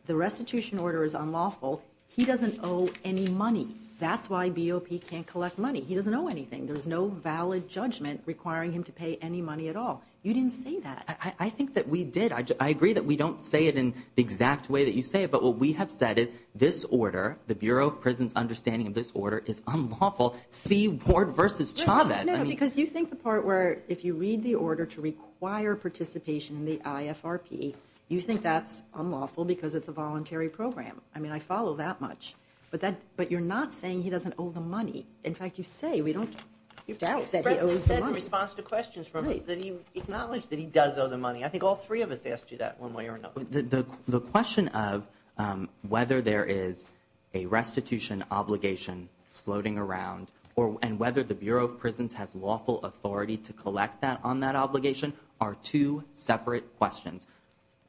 the restitution order is unlawful. He doesn't owe any money. That's why BOP can't collect money. He doesn't owe anything. There's no valid judgment requiring him to pay any money at all. You didn't say that. I think that we did. I agree that we don't say it in the exact way that you say it, but what we have said is this order, the Bureau of Prison's understanding of this order, is unlawful. See Ward v. Chavez. No, because you think the part where if you read the order to require participation in the IFRP, you think that's unlawful because it's a voluntary program. I mean, I follow that much. But you're not saying he doesn't owe the money. In fact, you say we don't doubt that he owes the money. He said in response to questions from us that he acknowledged that he does owe the money. I think all three of us asked you that one way or another. The question of whether there is a restitution obligation floating around and whether the Bureau of Prisons has lawful authority to collect on that obligation are two separate questions.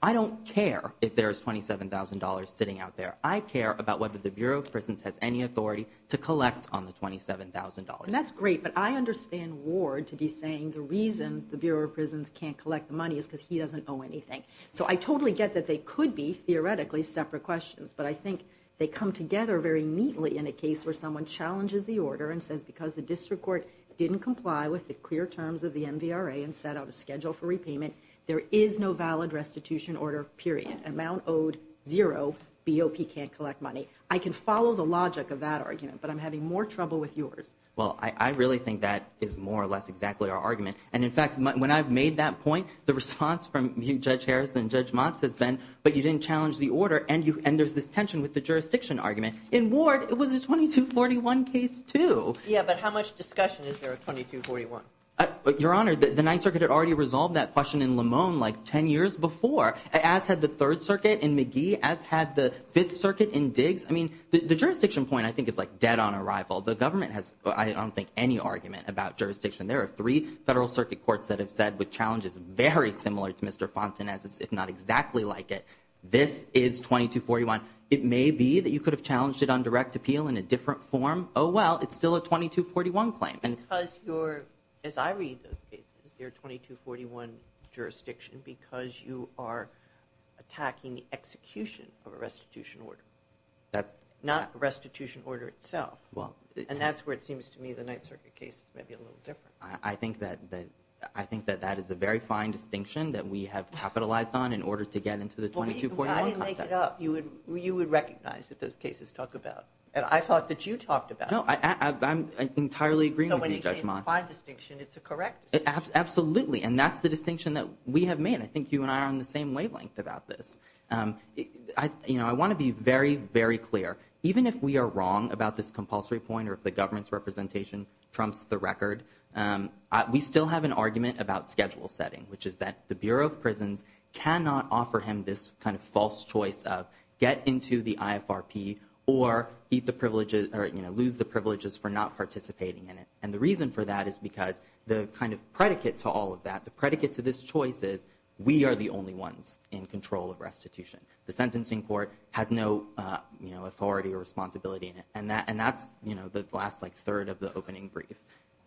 I don't care if there is $27,000 sitting out there. I care about whether the Bureau of Prisons has any authority to collect on the $27,000. That's great, but I understand Ward to be saying the reason the Bureau of Prisons can't collect the money is because he doesn't owe anything. So I totally get that they could be theoretically separate questions, but I think they come together very neatly in a case where someone challenges the order and says because the district court didn't comply with the clear terms of the MVRA and set out a schedule for repayment, there is no valid restitution order, period. Amount owed, zero. BOP can't collect money. I can follow the logic of that argument, but I'm having more trouble with yours. Well, I really think that is more or less exactly our argument. And, in fact, when I've made that point, the response from Judge Harris and Judge Motz has been, but you didn't challenge the order, and there's this tension with the jurisdiction argument. In Ward, it was a 2241 case, too. Yeah, but how much discussion is there of 2241? Your Honor, the Ninth Circuit had already resolved that question in Limon like 10 years before, as had the Third Circuit in McGee, as had the Fifth Circuit in Diggs. I mean, the jurisdiction point, I think, is, like, dead on arrival. The government has, I don't think, any argument about jurisdiction. There are three Federal Circuit courts that have said, with challenges very similar to Mr. Fontenay's, if not exactly like it, this is 2241. It may be that you could have challenged it on direct appeal in a different form. Oh, well, it's still a 2241 claim. Because you're, as I read those cases, they're 2241 jurisdiction because you are attacking the execution of a restitution order, not the restitution order itself. And that's where it seems to me the Ninth Circuit case is maybe a little different. I think that that is a very fine distinction that we have capitalized on in order to get into the 2241 context. I didn't make it up. You would recognize that those cases talk about, and I thought that you talked about it. No, I'm entirely agreeing with you, Judge Ma. So when you say it's a fine distinction, it's a correct distinction. Absolutely, and that's the distinction that we have made. I think you and I are on the same wavelength about this. I want to be very, very clear. Even if we are wrong about this compulsory point or if the government's representation trumps the record, we still have an argument about schedule setting, which is that the Bureau of Prisons cannot offer him this kind of false choice of get into the IFRP or lose the privileges for not participating in it. And the reason for that is because the kind of predicate to all of that, the predicate to this choice is we are the only ones in control of restitution. The sentencing court has no authority or responsibility in it. And that's the last third of the opening brief.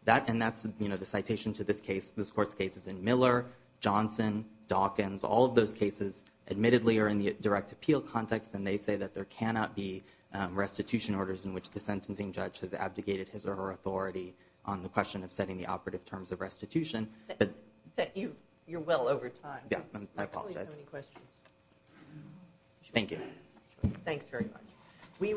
And that's the citation to this court's cases in Miller, Johnson, Dawkins. All of those cases admittedly are in the direct appeal context, and they say that there cannot be restitution orders in which the sentencing judge has abdicated his or her authority on the question of setting the operative terms of restitution. Thank you. You're well over time. I apologize. Do we have any questions? Thank you. Thanks very much.